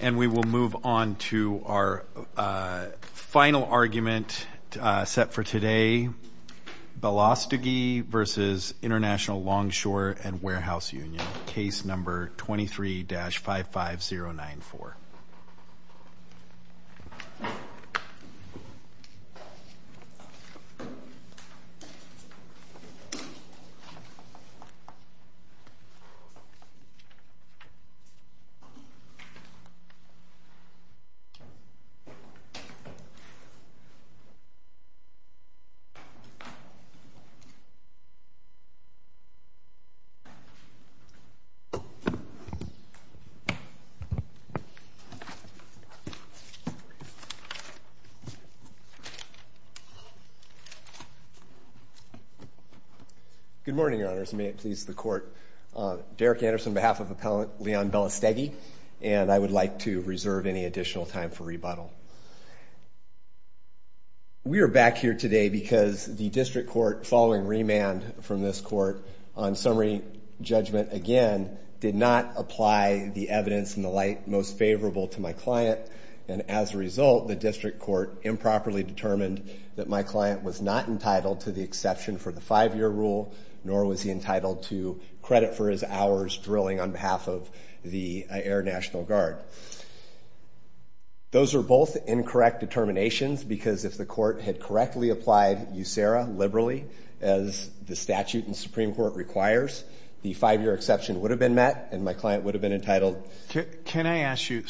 And we will move on to our final argument set for today. Belaustegui v. International Longshore and Warehouse Union, case number 23-55094. Belaustegui v. International Longshore and Warehouse Union Good morning, Your Honors. May it please the Court, Derek Anderson on behalf of Appellant Leon Belaustegui, and I would like to reserve any additional time for rebuttal. We are back here today because the District Court, following remand from this Court on summary judgment again, did not apply the evidence in the light most favorable to my client. And as a result, the District Court improperly determined that my client was not entitled to the exception for the five-year rule, nor was he entitled to credit for his hours drilling on behalf of the Air National Guard. Those are both incorrect determinations because if the Court had correctly applied USERRA liberally, as the statute in the Supreme Court requires, the five-year exception would have been met and my client would have been entitled. Can I ask you,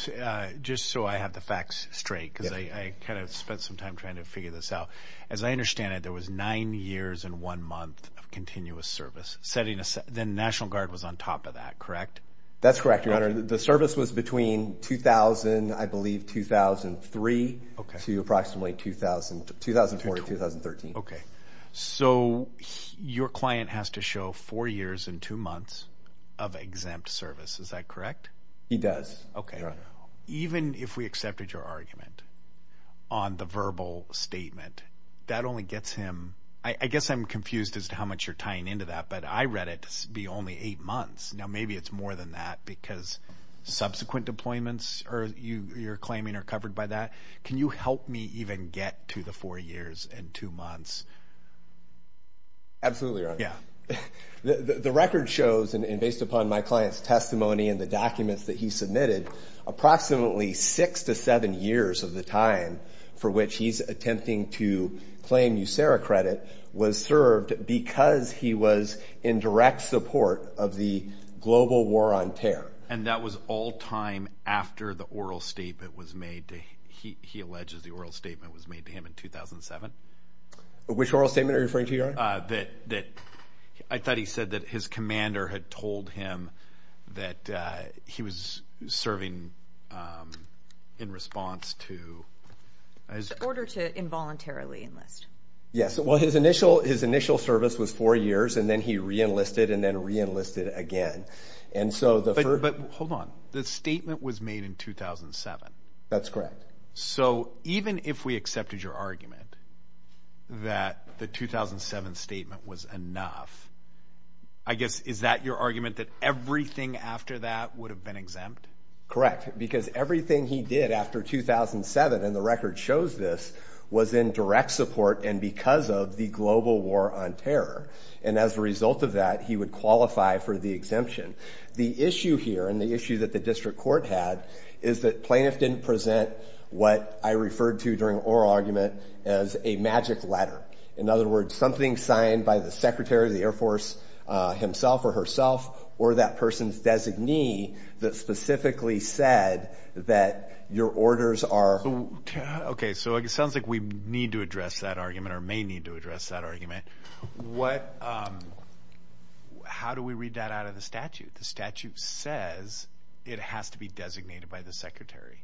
just so I have the facts straight, because I kind of spent some time trying to figure this out. As I understand it, there was nine years and one month of continuous service. Then the National Guard was on top of that, correct? That's correct, Your Honor. The service was between 2000, I believe 2003, to approximately 2004-2013. So your client has to show four years and two months of exempt service. Is that correct? He does, Your Honor. Even if we accepted your argument on the verbal statement, that only gets him—I guess I'm confused as to how much you're tying into that, but I read it to be only eight months. Now maybe it's more than that because subsequent deployments you're claiming are covered by that. Can you help me even get to the four years and two months? Absolutely, Your Honor. The record shows, and based upon my client's testimony and the documents that he submitted, approximately six to seven years of the time for which he's attempting to claim USERRA credit was served because he was in direct support of the global war on terror. And that was all time after the oral statement was made. He alleges the oral statement was made to him in 2007. Which oral statement are you referring to, Your Honor? I thought he said that his commander had told him that he was serving in response to— In order to involuntarily enlist. Yes. Well, his initial service was four years, and then he re-enlisted and then re-enlisted again. But hold on. The statement was made in 2007. That's correct. So even if we accepted your argument that the 2007 statement was enough, I guess is that your argument that everything after that would have been exempt? Correct, because everything he did after 2007, and the record shows this, was in direct support and because of the global war on terror. And as a result of that, he would qualify for the exemption. The issue here, and the issue that the district court had, is that plaintiff didn't present what I referred to during oral argument as a magic letter. In other words, something signed by the secretary of the Air Force himself or herself or that person's designee that specifically said that your orders are— Okay, so it sounds like we need to address that argument or may need to address that argument. How do we read that out of the statute? The statute says it has to be designated by the secretary.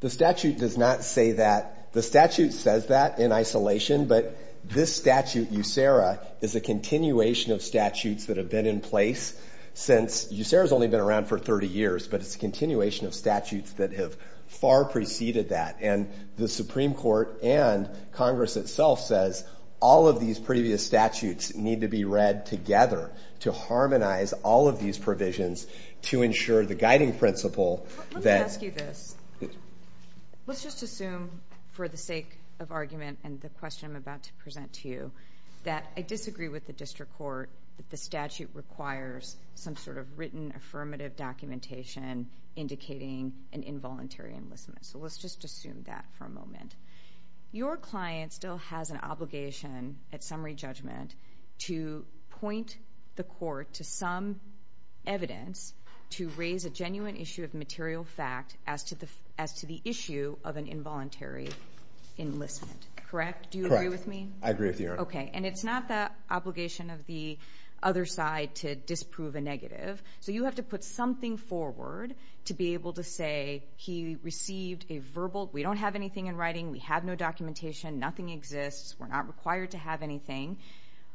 The statute does not say that. The statute says that in isolation, but this statute, USERA, is a continuation of statutes that have been in place since— USERA's only been around for 30 years, but it's a continuation of statutes that have far preceded that. And the Supreme Court and Congress itself says all of these previous statutes need to be read together to harmonize all of these provisions to ensure the guiding principle that— Let me ask you this. Let's just assume, for the sake of argument and the question I'm about to present to you, that I disagree with the district court that the statute requires some sort of written affirmative documentation indicating an involuntary enlistment. So let's just assume that for a moment. Your client still has an obligation at summary judgment to point the court to some evidence to raise a genuine issue of material fact as to the issue of an involuntary enlistment, correct? Do you agree with me? Correct. I agree with you. Okay, and it's not the obligation of the other side to disprove a negative. So you have to put something forward to be able to say he received a verbal— we don't have anything in writing, we have no documentation, nothing exists, we're not required to have anything.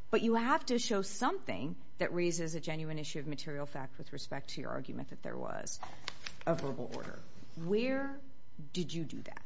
But you have to show something that raises a genuine issue of material fact with respect to your argument that there was a verbal order. Where did you do that?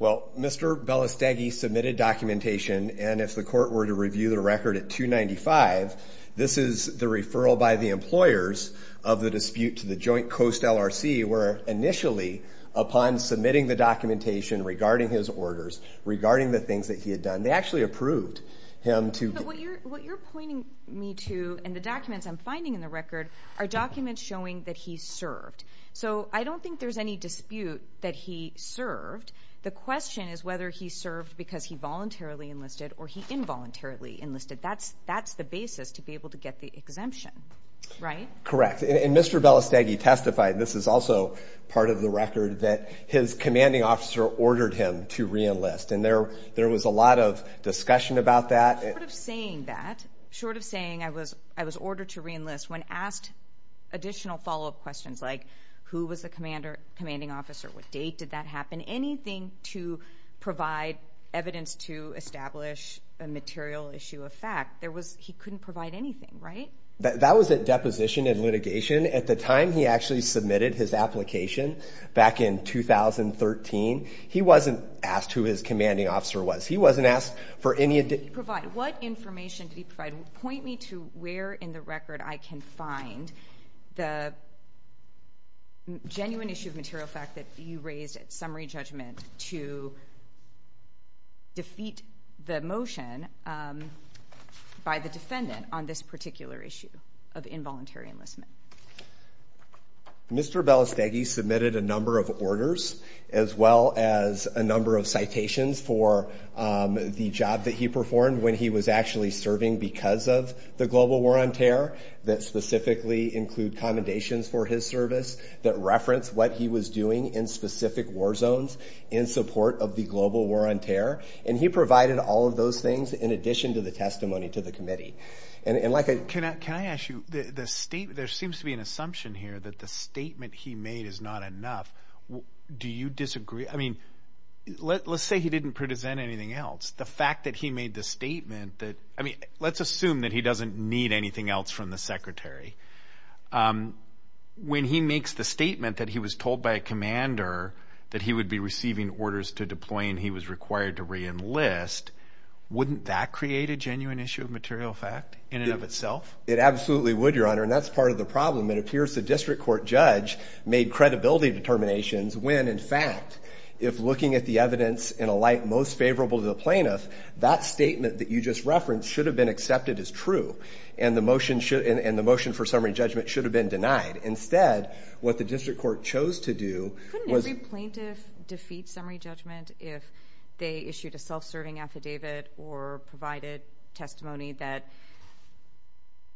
Well, Mr. Belastegui submitted documentation, and if the court were to review the record at 295, this is the referral by the employers of the dispute to the Joint Coast LRC where initially upon submitting the documentation regarding his orders, regarding the things that he had done, they actually approved him to— But what you're pointing me to in the documents I'm finding in the record are documents showing that he served. So I don't think there's any dispute that he served. The question is whether he served because he voluntarily enlisted or he involuntarily enlisted. That's the basis to be able to get the exemption, right? Correct, and Mr. Belastegui testified, and this is also part of the record, that his commanding officer ordered him to reenlist, and there was a lot of discussion about that. Short of saying that, short of saying I was ordered to reenlist, when asked additional follow-up questions like who was the commanding officer, what date did that happen, anything to provide evidence to establish a material issue of fact, he couldn't provide anything, right? That was at deposition and litigation. At the time he actually submitted his application back in 2013, he wasn't asked who his commanding officer was. He wasn't asked for any— What information did he provide? Point me to where in the record I can find the genuine issue of material fact that you raised at summary judgment to defeat the motion by the defendant on this particular issue of involuntary enlistment. Mr. Belastegui submitted a number of orders as well as a number of citations for the job that he performed when he was actually serving because of the global war on terror that specifically include commendations for his service that reference what he was doing in specific war zones in support of the global war on terror, and he provided all of those things in addition to the testimony to the committee. Can I ask you, there seems to be an assumption here that the statement he made is not enough. Do you disagree? Let's say he didn't present anything else. The fact that he made the statement that— I mean, let's assume that he doesn't need anything else from the secretary. When he makes the statement that he was told by a commander that he would be receiving orders to deploy and he was required to reenlist, wouldn't that create a genuine issue of material fact in and of itself? It absolutely would, Your Honor, and that's part of the problem. It appears the district court judge made credibility determinations when, in fact, if looking at the evidence in a light most favorable to the plaintiff, that statement that you just referenced should have been accepted as true, and the motion for summary judgment should have been denied. Instead, what the district court chose to do was— Couldn't every plaintiff defeat summary judgment if they issued a self-serving affidavit or provided testimony that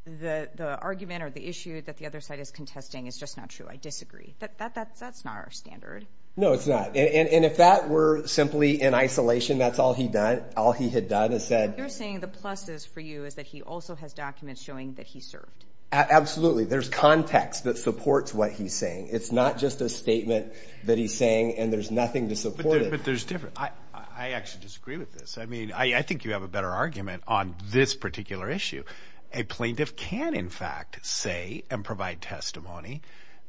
the argument or the issue that the other side is contesting is just not true? I disagree. That's not our standard. No, it's not, and if that were simply in isolation, that's all he had done is said— What you're saying the plus is for you is that he also has documents showing that he served. Absolutely. There's context that supports what he's saying. It's not just a statement that he's saying and there's nothing to support it. But there's—I actually disagree with this. I mean, I think you have a better argument on this particular issue. A plaintiff can, in fact, say and provide testimony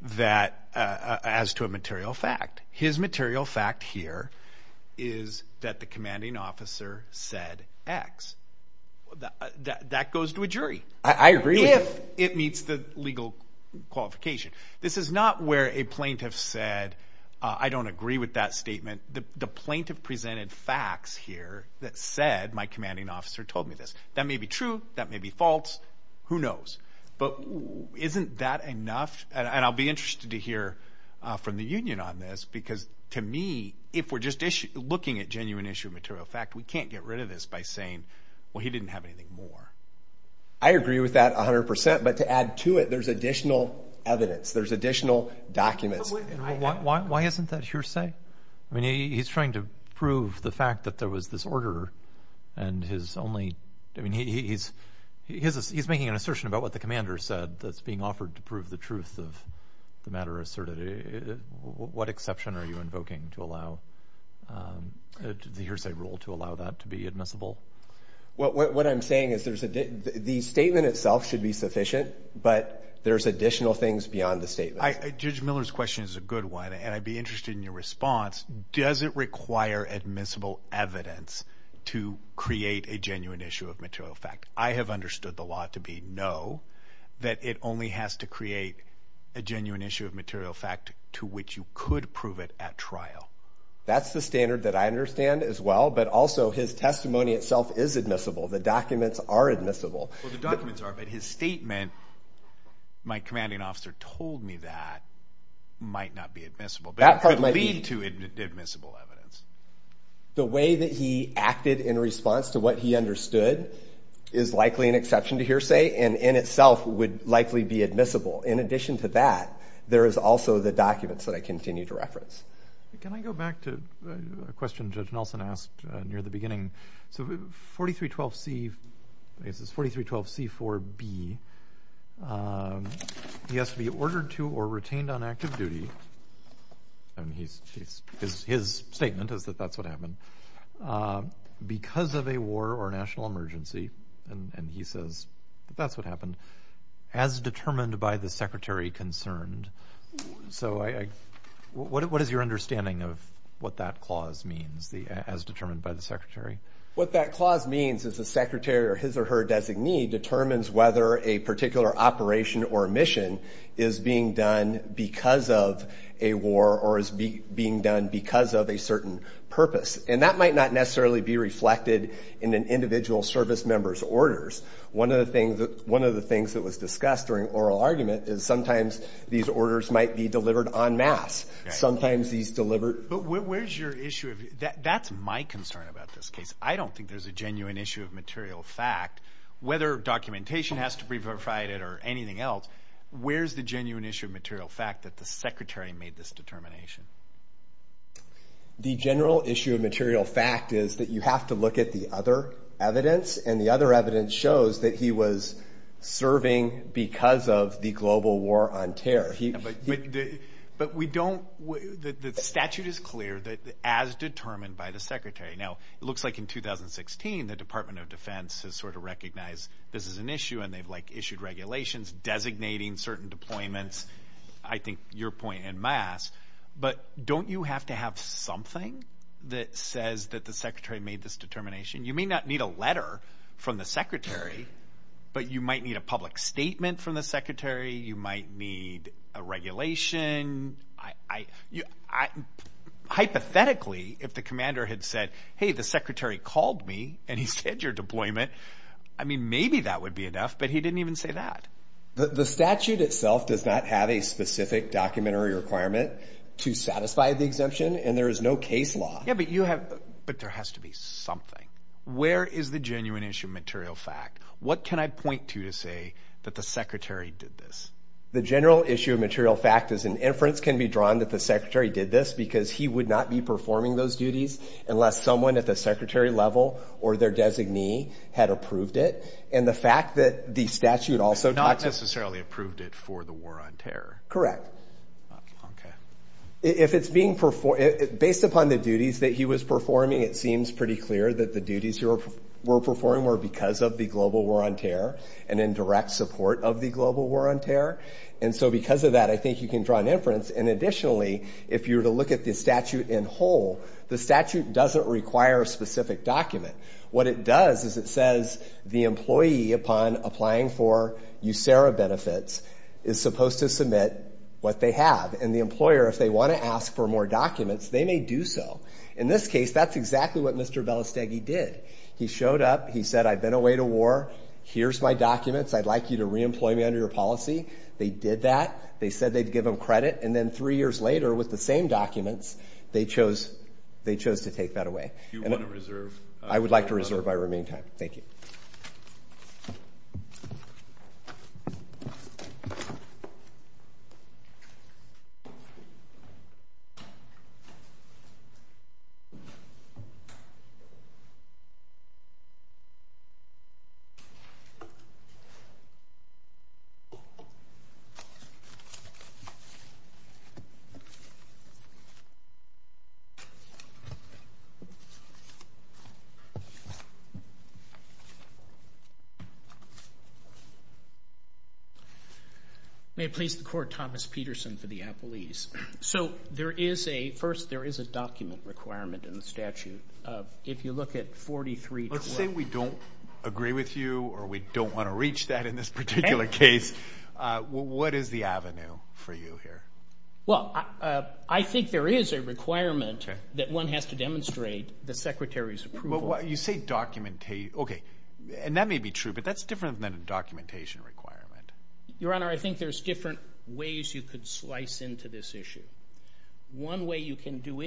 as to a material fact. His material fact here is that the commanding officer said X. That goes to a jury. I agree. If it meets the legal qualification. This is not where a plaintiff said, I don't agree with that statement. The plaintiff presented facts here that said my commanding officer told me this. That may be true. That may be false. Who knows? But isn't that enough? And I'll be interested to hear from the union on this because, to me, if we're just looking at genuine issue of material fact, we can't get rid of this by saying, well, he didn't have anything more. I agree with that 100 percent, but to add to it, there's additional evidence. There's additional documents. Why isn't that hearsay? I mean, he's trying to prove the fact that there was this order and his only, I mean, he's making an assertion about what the commander said that's being offered to prove the truth of the matter asserted. What exception are you invoking to allow the hearsay rule to allow that to be admissible? What I'm saying is the statement itself should be sufficient, but there's additional things beyond the statement. Judge Miller's question is a good one, and I'd be interested in your response. Does it require admissible evidence to create a genuine issue of material fact? I have understood the law to be no, that it only has to create a genuine issue of material fact to which you could prove it at trial. That's the standard that I understand as well, but also his testimony itself is admissible. The documents are admissible. Well, the documents are, but his statement, my commanding officer told me that, might not be admissible. That part might be. But it could lead to admissible evidence. The way that he acted in response to what he understood is likely an exception to hearsay and in itself would likely be admissible. In addition to that, there is also the documents that I continue to reference. Can I go back to a question Judge Nelson asked near the beginning? So 4312C, I guess it's 4312C4B, he has to be ordered to or retained on active duty, and his statement is that that's what happened, because of a war or national emergency, and he says that that's what happened, as determined by the secretary concerned. So what is your understanding of what that clause means, as determined by the secretary? What that clause means is the secretary or his or her designee determines whether a particular operation or mission is being done because of a war or is being done because of a certain purpose, and that might not necessarily be reflected in an individual service member's orders. One of the things that was discussed during oral argument is sometimes these orders might be delivered en masse. Sometimes these delivered— But where's your issue? That's my concern about this case. I don't think there's a genuine issue of material fact. Whether documentation has to be verified or anything else, where's the genuine issue of material fact that the secretary made this determination? The general issue of material fact is that you have to look at the other evidence, and the other evidence shows that he was serving because of the global war on terror. But we don't—the statute is clear that as determined by the secretary. Now, it looks like in 2016 the Department of Defense has sort of recognized this is an issue, and they've, like, issued regulations designating certain deployments. I think your point en masse. But don't you have to have something that says that the secretary made this determination? You may not need a letter from the secretary, but you might need a public statement from the secretary. You might need a regulation. Hypothetically, if the commander had said, hey, the secretary called me, and he said your deployment, I mean, maybe that would be enough, but he didn't even say that. The statute itself does not have a specific documentary requirement to satisfy the exemption, and there is no case law. Yeah, but you have—but there has to be something. Where is the genuine issue of material fact? What can I point to to say that the secretary did this? The general issue of material fact is an inference can be drawn that the secretary did this because he would not be performing those duties unless someone at the secretary level or their designee had approved it. And the fact that the statute also— Not necessarily approved it for the war on terror. Correct. Okay. If it's being—based upon the duties that he was performing, it seems pretty clear that the duties he were performing were because of the global war on terror and in direct support of the global war on terror. And so because of that, I think you can draw an inference. And additionally, if you were to look at the statute in whole, the statute doesn't require a specific document. What it does is it says the employee, upon applying for USERRA benefits, is supposed to submit what they have, and the employer, if they want to ask for more documents, they may do so. In this case, that's exactly what Mr. Belastegui did. He showed up. He said, I've been away to war. Here's my documents. I'd like you to reemploy me under your policy. They did that. They said they'd give him credit. And then three years later, with the same documents, they chose to take that away. If you want to reserve— I would like to reserve my remaining time. Thank you. Thank you. So there is a—first, there is a document requirement in the statute. If you look at 43— Let's say we don't agree with you or we don't want to reach that in this particular case. What is the avenue for you here? Well, I think there is a requirement that one has to demonstrate the secretary's approval. You say document—okay, and that may be true, but that's different than a documentation requirement. Your Honor, I think there's different ways you could slice into this issue. One way you can do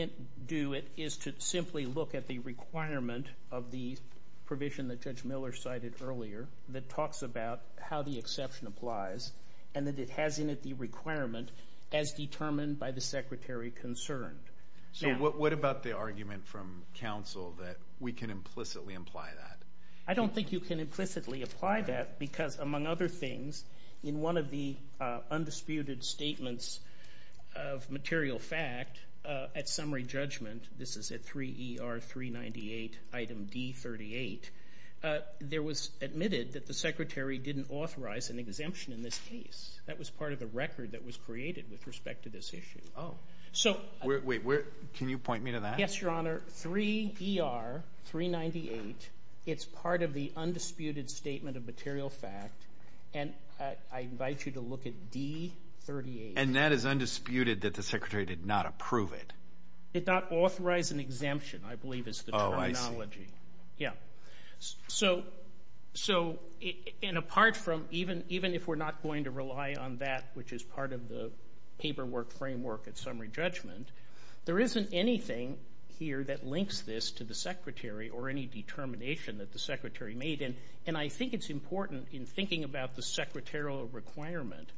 it is to simply look at the requirement of the provision that Judge Miller cited earlier that talks about how the exception applies and that it has in it the requirement as determined by the secretary concerned. So what about the argument from counsel that we can implicitly imply that? I don't think you can implicitly apply that because, among other things, in one of the undisputed statements of material fact at summary judgment—this is at 3 ER 398, item D38— there was admitted that the secretary didn't authorize an exemption in this case. That was part of the record that was created with respect to this issue. Oh. So— Wait, can you point me to that? Yes, Your Honor. Under 3 ER 398, it's part of the undisputed statement of material fact, and I invite you to look at D38. And that is undisputed that the secretary did not approve it? Did not authorize an exemption, I believe is the terminology. Yeah. So—and apart from—even if we're not going to rely on that, which is part of the paperwork framework at summary judgment, there isn't anything here that links this to the secretary or any determination that the secretary made. And I think it's important, in thinking about the secretarial requirement,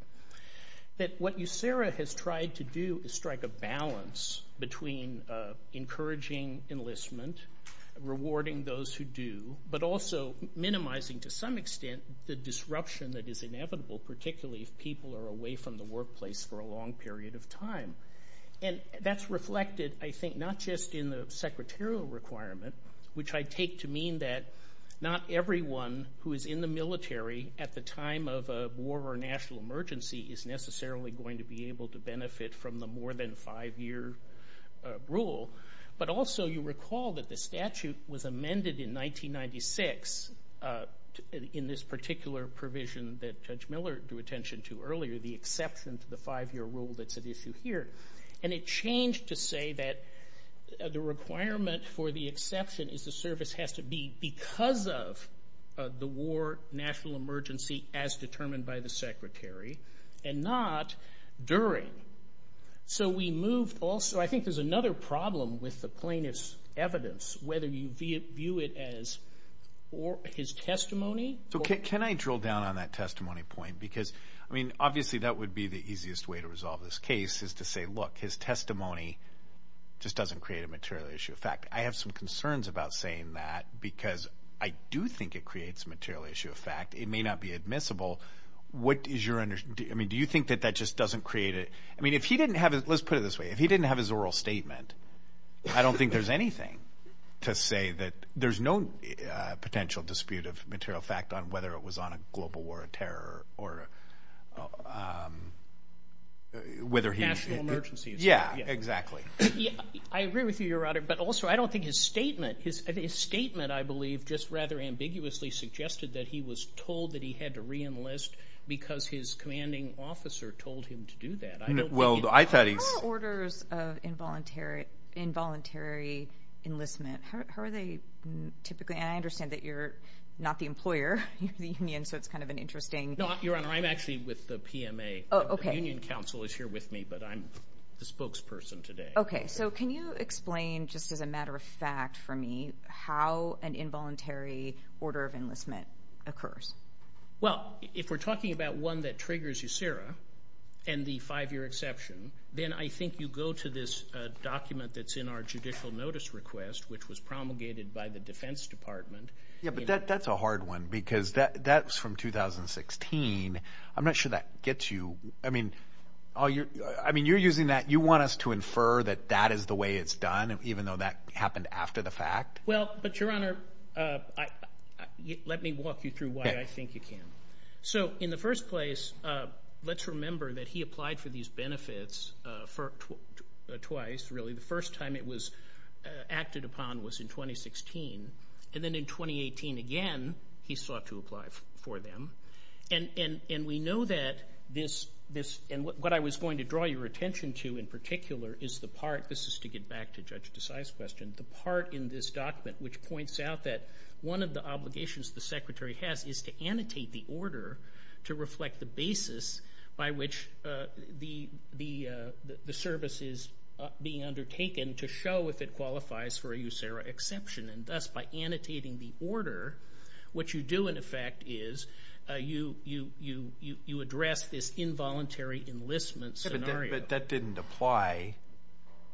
that what USERA has tried to do is strike a balance between encouraging enlistment, rewarding those who do, but also minimizing, to some extent, the disruption that is inevitable, particularly if people are away from the workplace for a long period of time. And that's reflected, I think, not just in the secretarial requirement, which I take to mean that not everyone who is in the military at the time of a war or national emergency is necessarily going to be able to benefit from the more than five-year rule, but also you recall that the statute was amended in 1996 in this particular provision that Judge Miller drew attention to earlier, the exception to the five-year rule that's at issue here. And it changed to say that the requirement for the exception is the service has to be because of the war, national emergency, as determined by the secretary and not during. So we moved also—I think there's another problem with the plaintiff's evidence, whether you view it as his testimony. So can I drill down on that testimony point? Because, I mean, obviously that would be the easiest way to resolve this case is to say, look, his testimony just doesn't create a material issue of fact. I have some concerns about saying that because I do think it creates a material issue of fact. It may not be admissible. What is your—I mean, do you think that that just doesn't create a—I mean, if he didn't have—let's put it this way. If he didn't have his oral statement, I don't think there's anything to say that there's no potential dispute of material fact on whether it was on a global war of terror or whether he— National emergency. Yeah, exactly. I agree with you, Your Honor, but also I don't think his statement—his statement, I believe, just rather ambiguously suggested that he was told that he had to reenlist because his commanding officer told him to do that. I don't think he— Well, I thought he— How are orders of involuntary enlistment—how are they typically— and I understand that you're not the employer, you're the union, so it's kind of an interesting— No, Your Honor, I'm actually with the PMA. Oh, okay. The union council is here with me, but I'm the spokesperson today. Okay. So can you explain, just as a matter of fact for me, how an involuntary order of enlistment occurs? Well, if we're talking about one that triggers USERA and the five-year exception, then I think you go to this document that's in our judicial notice request, which was promulgated by the Defense Department. Yeah, but that's a hard one because that's from 2016. I'm not sure that gets you. I mean, you're using that—you want us to infer that that is the way it's done, even though that happened after the fact? Well, but, Your Honor, let me walk you through why I think you can. So in the first place, let's remember that he applied for these benefits twice, really. The first time it was acted upon was in 2016, and then in 2018 again he sought to apply for them. And we know that this—and what I was going to draw your attention to in particular is the part— this is to get back to Judge Desai's question—the part in this document which points out that one of the obligations the Secretary has is to annotate the order to reflect the basis by which the service is being undertaken to show if it qualifies for a USERA exception. And thus, by annotating the order, what you do in effect is you address this involuntary enlistment scenario. But that didn't apply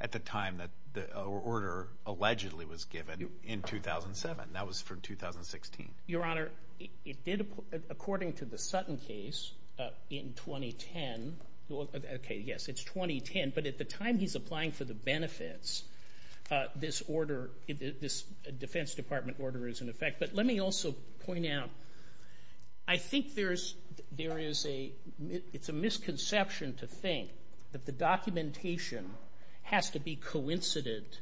at the time that the order allegedly was given in 2007. That was from 2016. Your Honor, it did, according to the Sutton case in 2010— okay, yes, it's 2010, but at the time he's applying for the benefits, this order, this Defense Department order is in effect. But let me also point out, I think there is a—it's a misconception to think that the documentation has to be coincident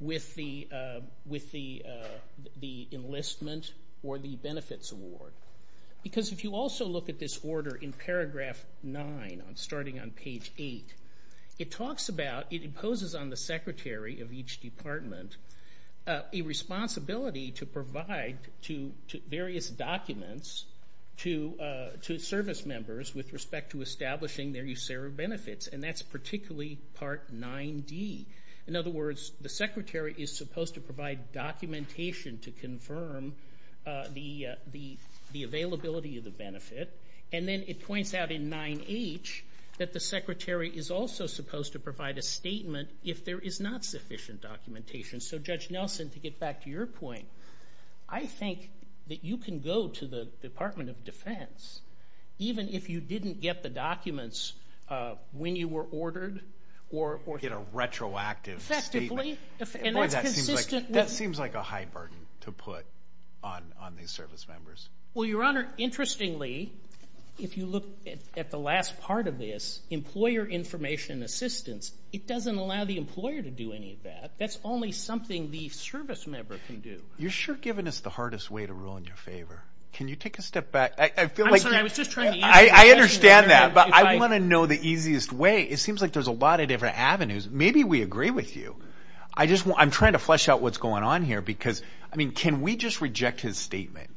with the enlistment or the benefits award. Because if you also look at this order in paragraph 9, starting on page 8, it talks about—it imposes on the Secretary of each department a responsibility to provide to various documents to service members with respect to establishing their USERA benefits, and that's particularly part 9D. In other words, the Secretary is supposed to provide documentation to confirm the availability of the benefit. And then it points out in 9H that the Secretary is also supposed to provide a statement if there is not sufficient documentation. So, Judge Nelson, to get back to your point, I think that you can go to the Department of Defense, even if you didn't get the documents when you were ordered or— Get a retroactive statement. Effectively. Boy, that seems like a high burden to put on these service members. Well, Your Honor, interestingly, if you look at the last part of this, employer information assistance, it doesn't allow the employer to do any of that. That's only something the service member can do. You're sure giving us the hardest way to rule in your favor. Can you take a step back? I feel like— I was just trying to answer the question. I understand that, but I want to know the easiest way. It seems like there's a lot of different avenues. Maybe we agree with you. I just want—I'm trying to flesh out what's going on here because, I mean, can we just reject his statement?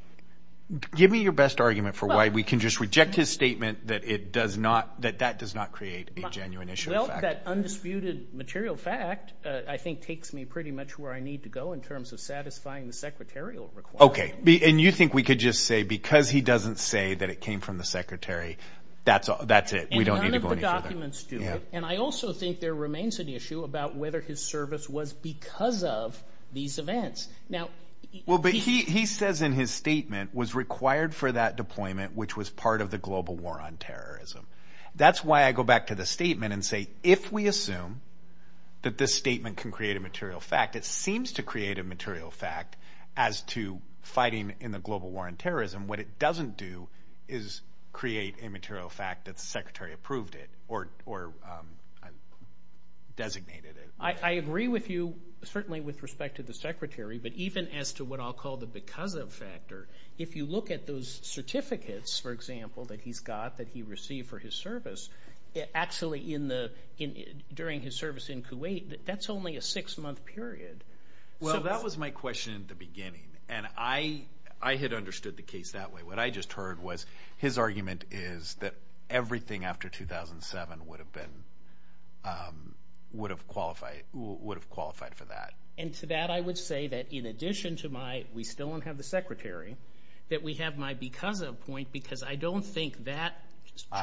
Give me your best argument for why we can just reject his statement that it does not—that that does not create a genuine issue. Well, that undisputed material fact, I think, takes me pretty much where I need to go in terms of satisfying the secretarial requirement. Okay. And you think we could just say because he doesn't say that it came from the Secretary, that's it. We don't need to go any further. And none of the documents do it. And I also think there remains an issue about whether his service was because of these events. Now— Well, but he says in his statement, was required for that deployment, which was part of the global war on terrorism. That's why I go back to the statement and say, if we assume that this statement can create a material fact, it seems to create a material fact as to fighting in the global war on terrorism. What it doesn't do is create a material fact that the Secretary approved it or designated it. I agree with you, certainly with respect to the Secretary, but even as to what I'll call the because of factor, if you look at those certificates, for example, that he's got that he received for his service, actually during his service in Kuwait, that's only a six-month period. Well, that was my question at the beginning, and I had understood the case that way. What I just heard was his argument is that everything after 2007 would have qualified for that. And to that I would say that in addition to my we still don't have the Secretary, that we have my because of point because I don't think that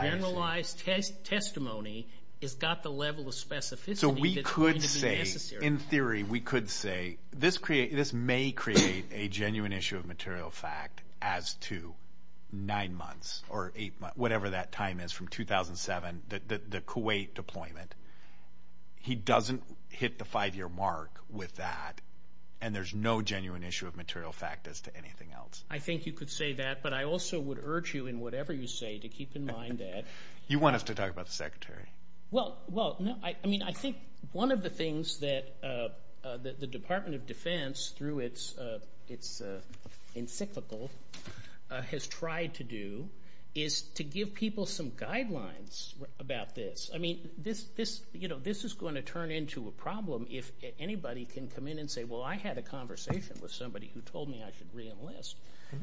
generalized testimony has got the level of specificity that's going to be necessary. In theory, we could say this may create a genuine issue of material fact as to nine months or eight months, whatever that time is from 2007, the Kuwait deployment. He doesn't hit the five-year mark with that, and there's no genuine issue of material fact as to anything else. I think you could say that, but I also would urge you in whatever you say to keep in mind that— You want us to talk about the Secretary. Well, I mean, I think one of the things that the Department of Defense, through its encyclical, has tried to do is to give people some guidelines about this. I mean, this is going to turn into a problem if anybody can come in and say, well, I had a conversation with somebody who told me I should reenlist.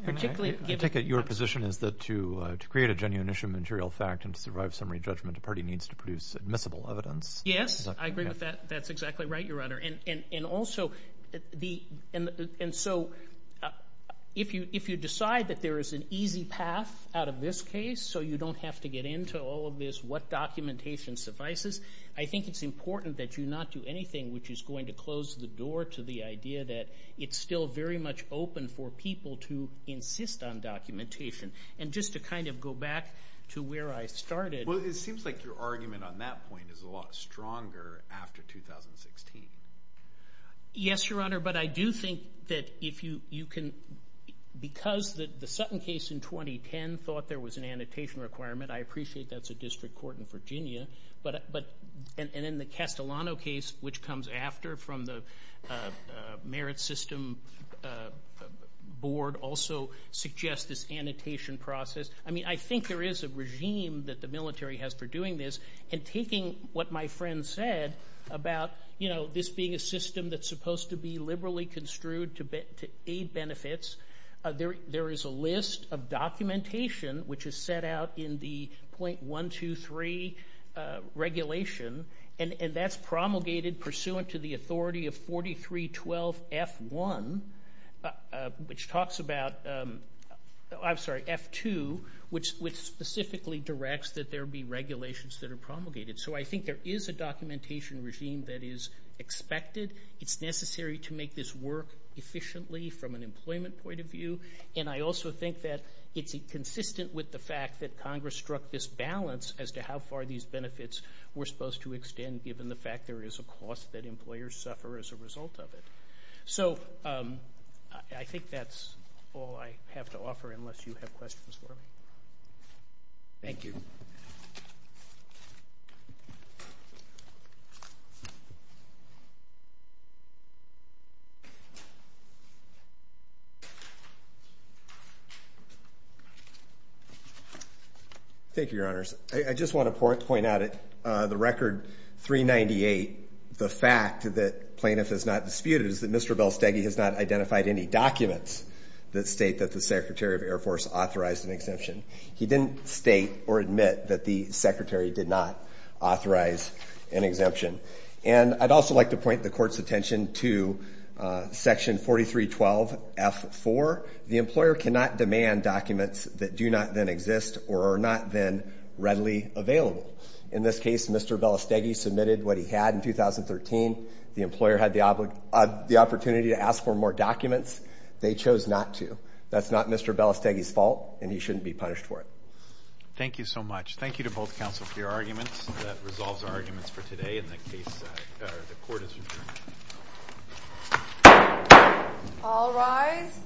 I take it your position is that to create a genuine issue of material fact and to survive summary judgment, a party needs to produce admissible evidence. Yes, I agree with that. That's exactly right, Your Honor. And also, if you decide that there is an easy path out of this case so you don't have to get into all of this, what documentation suffices, I think it's important that you not do anything which is going to close the door to the idea that it's still very much open for people to insist on documentation. And just to kind of go back to where I started— Well, it seems like your argument on that point is a lot stronger after 2016. Yes, Your Honor, but I do think that if you can— because the Sutton case in 2010 thought there was an annotation requirement, I appreciate that's a district court in Virginia, and then the Castellano case, which comes after from the Merit System Board, also suggests this annotation process. I mean, I think there is a regime that the military has for doing this, and taking what my friend said about this being a system that's supposed to be liberally construed to aid benefits, there is a list of documentation which is set out in the 0.123 regulation, and that's promulgated pursuant to the authority of 43.12.F.1, which talks about—I'm sorry, F.2, which specifically directs that there be regulations that are promulgated. So I think there is a documentation regime that is expected. It's necessary to make this work efficiently from an employment point of view, and I also think that it's consistent with the fact that Congress struck this balance as to how far these benefits were supposed to extend, given the fact there is a cost that employers suffer as a result of it. So I think that's all I have to offer, unless you have questions for me. Thank you. Thank you, Your Honors. I just want to point out that the record 398, the fact that plaintiff has not disputed, is that Mr. Belstegi has not identified any documents that state that the Secretary of Air Force authorized an exemption. He didn't state or admit that the Secretary did not authorize an exemption. And I'd also like to point the Court's attention to Section 43.12.F.4. The employer cannot demand documents that do not then exist or are not then readily available. In this case, Mr. Belstegi submitted what he had in 2013. The employer had the opportunity to ask for more documents. They chose not to. That's not Mr. Belstegi's fault, and he shouldn't be punished for it. Thank you so much. Thank you to both counsel for your arguments. That resolves our arguments for today, and the Court is adjourned. All rise.